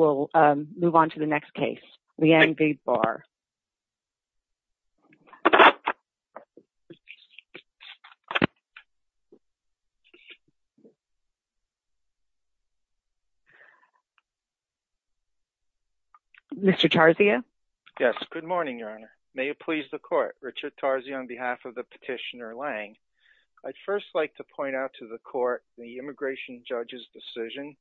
will move on to the next case. Leanne B. Barr. Mr. Tarzio? Yes. Good morning, Your Honor. May it please the court, Richard Tarzio on behalf of the petitioner, Lange. I'd first like to point out to the court the immigration judge's decision,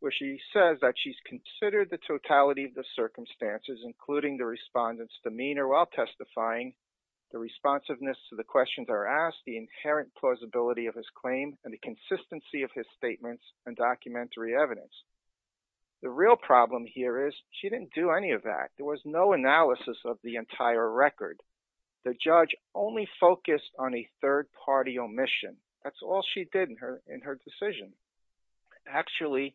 where she says that she's considered the totality of the circumstances, including the respondent's demeanor while testifying, the responsiveness to the questions that are asked, the inherent plausibility of his claim, and the consistency of his statements and documentary evidence. The real problem here is she didn't do any of that. There was no analysis of the entire record. The judge only focused on a third party, which she did in her decision. Actually,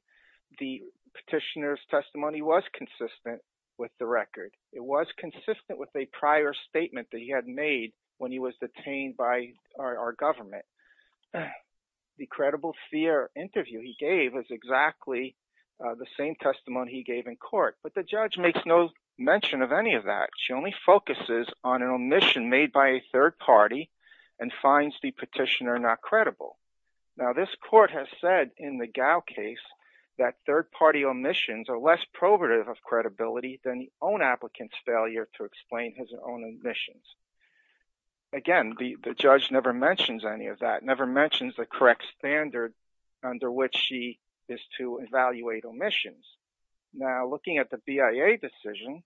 the petitioner's testimony was consistent with the record. It was consistent with a prior statement that he had made when he was detained by our government. The credible fear interview he gave was exactly the same testimony he gave in court, but the judge makes no mention of any of that. She only focuses on an omission made by a third party and finds the petitioner not credible. Now, this court has said in the Gao case that third party omissions are less probative of credibility than the own applicant's failure to explain his own omissions. Again, the judge never mentions any of that, never mentions the correct standard under which she is to evaluate omissions. Now, looking at the BIA decision,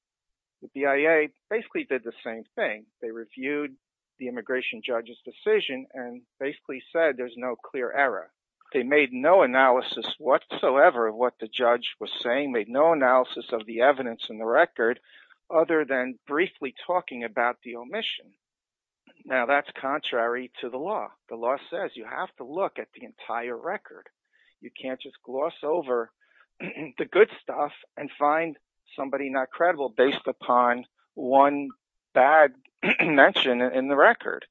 the BIA basically did the same thing. They reviewed the immigration judge's decision and basically said there's no clear error. They made no analysis whatsoever of what the judge was saying, made no analysis of the evidence in the record other than briefly talking about the omission. Now, that's contrary to the law. The law says you have to look at the entire record. You can't just gloss over the good stuff and find somebody not credible based upon one bad mention in the record.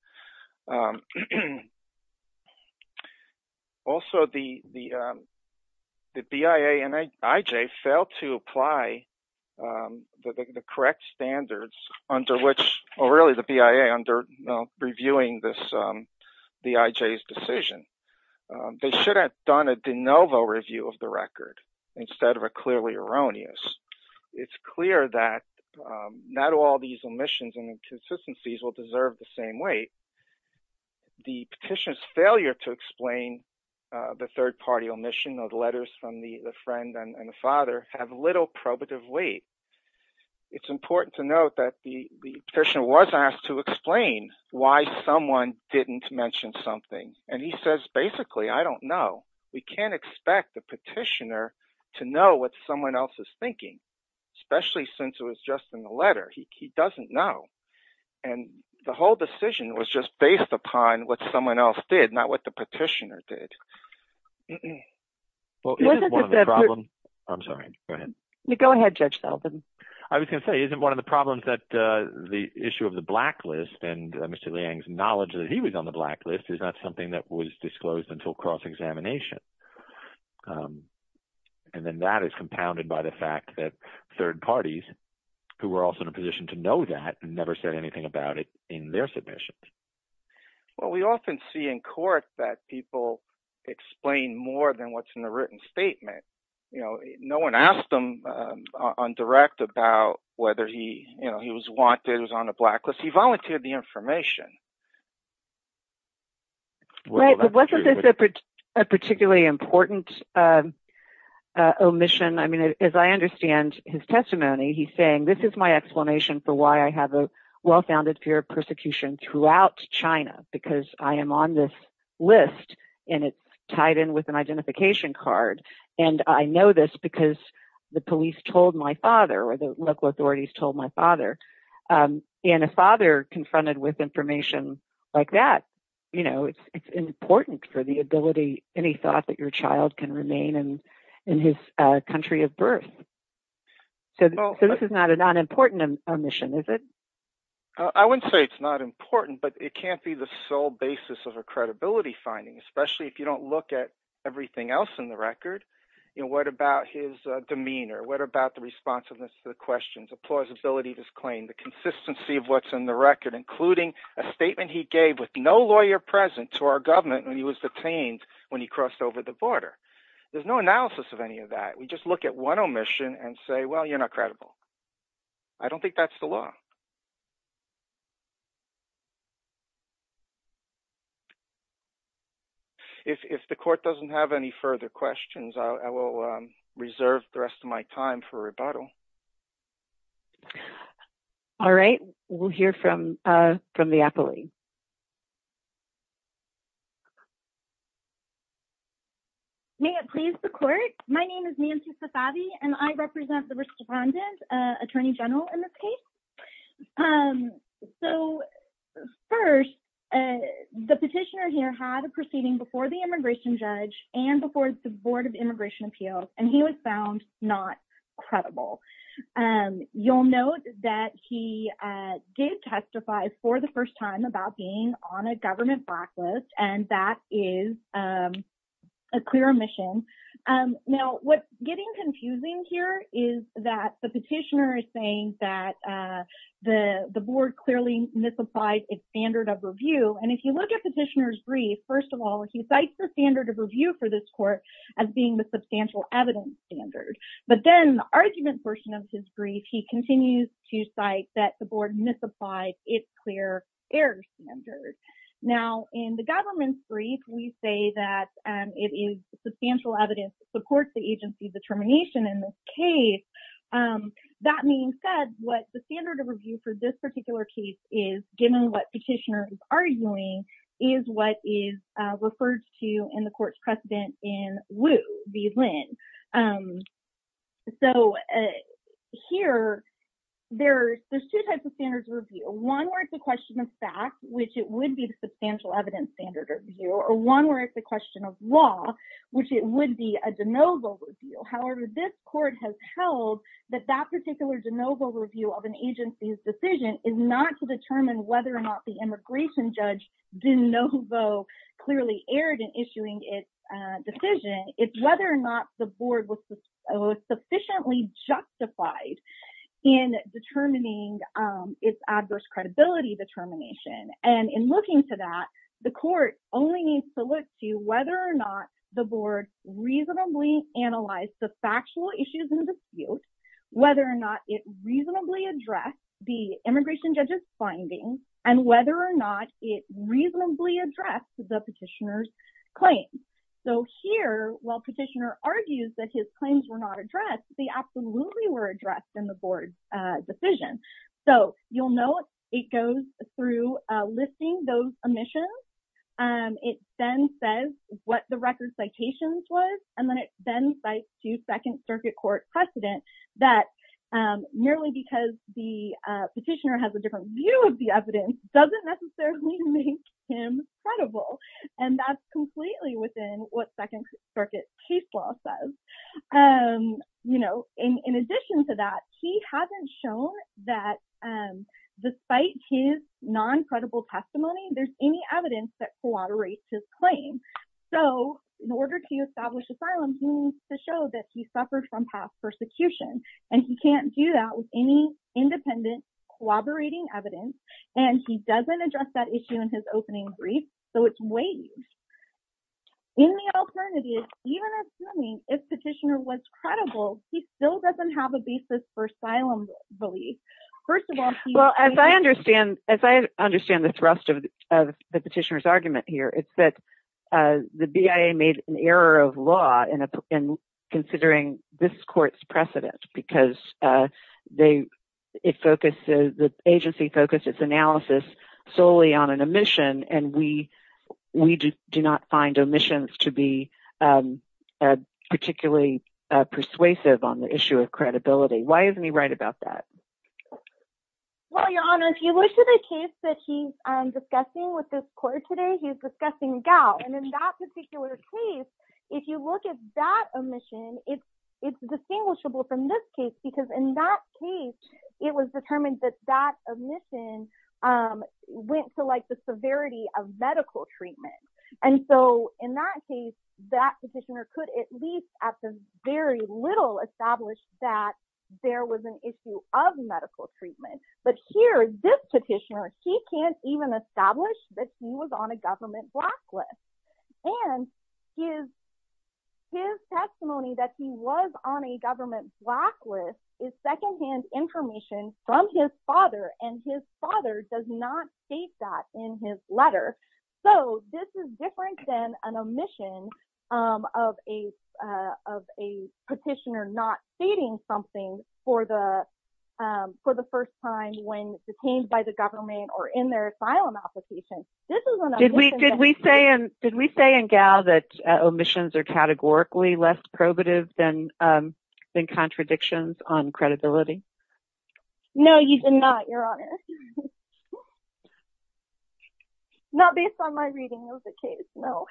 Also, the BIA and IJ failed to apply the correct standards under which, or really the BIA, under reviewing this, the IJ's decision. They should have done a de novo review of the record instead of a clearly erroneous. It's clear that not all these omissions and inconsistencies will deserve the same weight. The petitioner's failure to explain the third party omission of letters from the friend and the father have probative weight. It's important to note that the petitioner was asked to explain why someone didn't mention something. He says, basically, I don't know. We can't expect the petitioner to know what someone else is thinking, especially since it was just in the letter. He doesn't know. The whole decision was just based upon what someone else did, not what the petitioner did. Well, isn't one of the problems that the issue of the blacklist and Mr. Liang's knowledge that he was on the blacklist is not something that was disclosed until cross examination. Then that is compounded by the fact that third parties, who were also in a position to know that, never said anything about it in their submissions. Well, we often see in court that people explain more than what's in the written statement. No one asked him on direct about whether he was wanted, was on the blacklist. He volunteered the information. Wasn't this a particularly important omission? As I understand his testimony, he's saying, this is my explanation for why I have a well-founded fear of persecution throughout China, because I am on this list and it's tied in with an identification card. I know this because the police told my father or the local authorities told my father. A father confronted with information like that, it's important for the ability, any thought that your child can remain in his country of birth. This is not an unimportant omission, is it? I wouldn't say it's not important, but it can't be the sole basis of a credibility finding, especially if you don't look at everything else in the record. What about his demeanor? What about the responsiveness to the questions, the plausibility of his claim, the consistency of what's in the record, including a statement he gave with no lawyer present to our government when he was detained, when he crossed over the border. There's no analysis of any of that. We just look at one omission and say, well, you're not credible. I don't think that's the law. If the court doesn't have any further questions, I will reserve the rest of my time for rebuttal. All right. We'll hear from the appellee. May it please the court. My name is Nancy Safavi and I represent the So first, the petitioner here had a proceeding before the immigration judge and before the Board of Immigration Appeals, and he was found not credible. You'll note that he did testify for the first time about being on a government blacklist, and that is a clear omission. Now, what's getting confusing here is that the petitioner is saying that the board clearly misapplied its standard of review. And if you look at the petitioner's brief, first of all, he cites the standard of review for this court as being the substantial evidence standard. But then the argument portion of his brief, he continues to cite that the board misapplied its clear error standard. Now, in the government's brief, we say that it is substantial evidence that supports the agency's determination in this case. That being said, what the standard of review for this particular case is, given what petitioner is arguing, is what is referred to in the court's precedent in Wu v. Lynn. So here, there's two types of standards of review. One where it's a question of fact, which it would be the substantial evidence standard of review, or one where it's a question of law, which it would be a de novo review. However, this court has held that that particular de novo review of an agency's decision is not to determine whether or not the immigration judge de novo clearly erred in issuing its decision. It's whether or not the board was sufficiently justified in determining its adverse credibility determination. And in looking to that, the court only needs to look to whether or not the board reasonably analyzed the factual issues in dispute, whether or not it reasonably addressed the immigration judge's findings, and whether or not it reasonably addressed the petitioner's claims. So here, while petitioner argues that his claims were not addressed, they absolutely were addressed in the board's decision. So you'll note it goes through listing those omissions. It then says what the record citations was, and then it then cites to Second Circuit Court precedent that merely because the petitioner has a different view of the evidence doesn't necessarily make him credible. And that's um, you know, in addition to that, he hasn't shown that despite his non credible testimony, there's any evidence that corroborates his claim. So in order to establish asylum, he needs to show that he suffered from past persecution. And he can't do that with any independent, collaborating evidence. And he doesn't address that issue in his opening brief. So it's waived. In the alternative, even assuming if petitioner was credible, he still doesn't have a basis for asylum relief. First of all, well, as I understand, as I understand the thrust of the petitioner's argument here, it's that the BIA made an error of law in considering this court's precedent, because they, it focuses, the agency focuses analysis solely on an omission. And we, we do not find omissions to be particularly persuasive on the issue of credibility. Why isn't he right about that? Well, Your Honor, if you look at a case that he's discussing with this court today, he's discussing Gao. And in that particular case, if you look at that omission, it's, it's distinguishable from this case, because in that case, it was determined that that omission went to like the severity of medical treatment. And so in that case, that petitioner could at least at the very little established that there was an issue of medical treatment. But here, this petitioner, he can't even establish that he was on a government blacklist. And his, his testimony that he was on a government blacklist is secondhand information from his father does not state that in his letter. So this is different than an omission of a, of a petitioner not stating something for the, for the first time when detained by the government or in their asylum application. Did we, did we say, did we say in Gao that omissions are categorically less probative than, than contradictions on credibility? No, you did not, Your Honor. Not based on my reading of the case, no.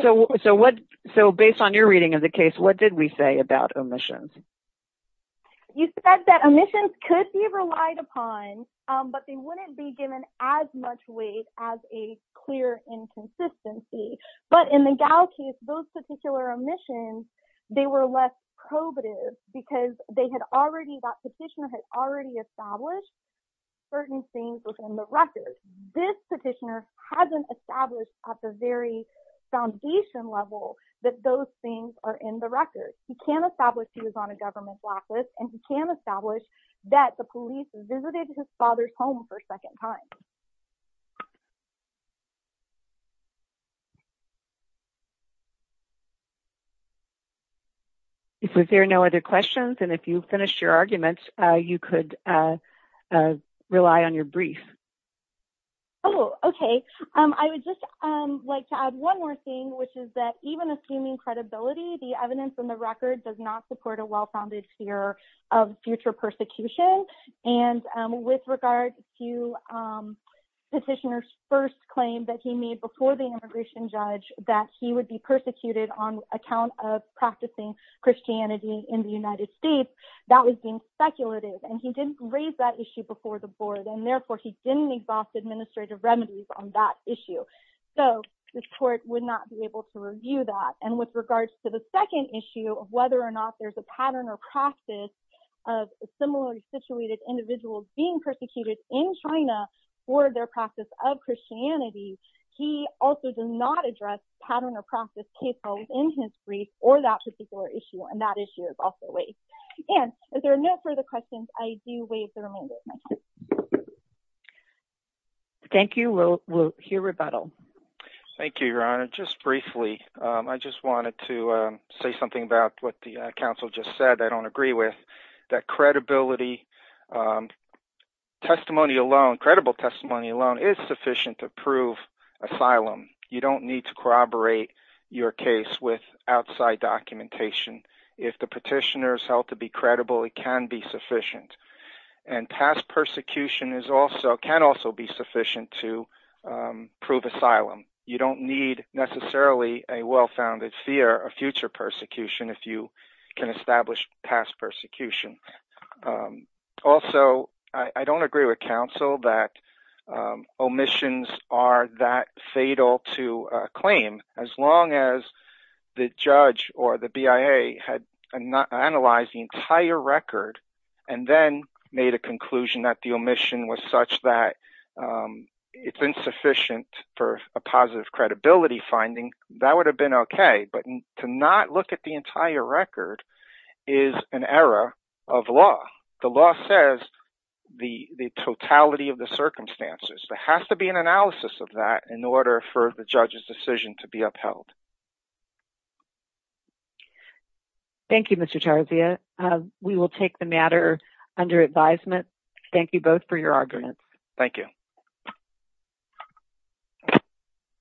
So, so what, so based on your reading of the case, what did we say about omissions? You said that omissions could be relied upon, but they wouldn't be given as much weight as a clear inconsistency. But in the Gao case, those particular omissions, they were less probative, because they had already, that petitioner had already established certain things within the record. This petitioner hasn't established at the very foundation level that those things are in the record. He can't establish he was on a government blacklist, and he can't establish that the police visited his father's home for a second time. So, is there no other questions? And if you finish your arguments, you could rely on your brief. Oh, okay. I would just like to add one more thing, which is that even assuming credibility, the evidence in the record does not support a well-founded fear of future persecution. And with regard to petitioner's first claim that he made before the immigration judge, that he would be persecuted on account of practicing Christianity in the United States, that was being speculative. And he didn't raise that issue before the board, and therefore he didn't exhaust administrative remedies on that issue. So, the court would not be able to review that. And with regards to the second issue of whether or not there's a pattern or process of similarly situated individuals being persecuted in China for their practice of Christianity, he also does not address pattern or process case files in his brief or that particular issue. And that issue is also raised. And if there are no further questions, I do waive the remainder of my time. Thank you. We'll hear rebuttal. Thank you, Your Honor. Just briefly, I just wanted to say something about what the counsel just said that I don't agree with, that credibility, testimony alone, credible testimony alone is sufficient to prove asylum. You don't need to corroborate your case with outside documentation. If the petitioner is held to be credible, it can be sufficient. And past persecution can also be sufficient to well-founded fear of future persecution if you can establish past persecution. Also, I don't agree with counsel that omissions are that fatal to claim as long as the judge or the BIA had analyzed the entire record and then made a conclusion that the omission was such that it's insufficient for a positive credibility finding, that would have been okay. But to not look at the entire record is an error of law. The law says the totality of the circumstances. There has to be an analysis of that in order for the judge's decision to be upheld. Thank you, Mr. Tarzia. We will take the matter under advisement. Thank you both for your time. Thank you.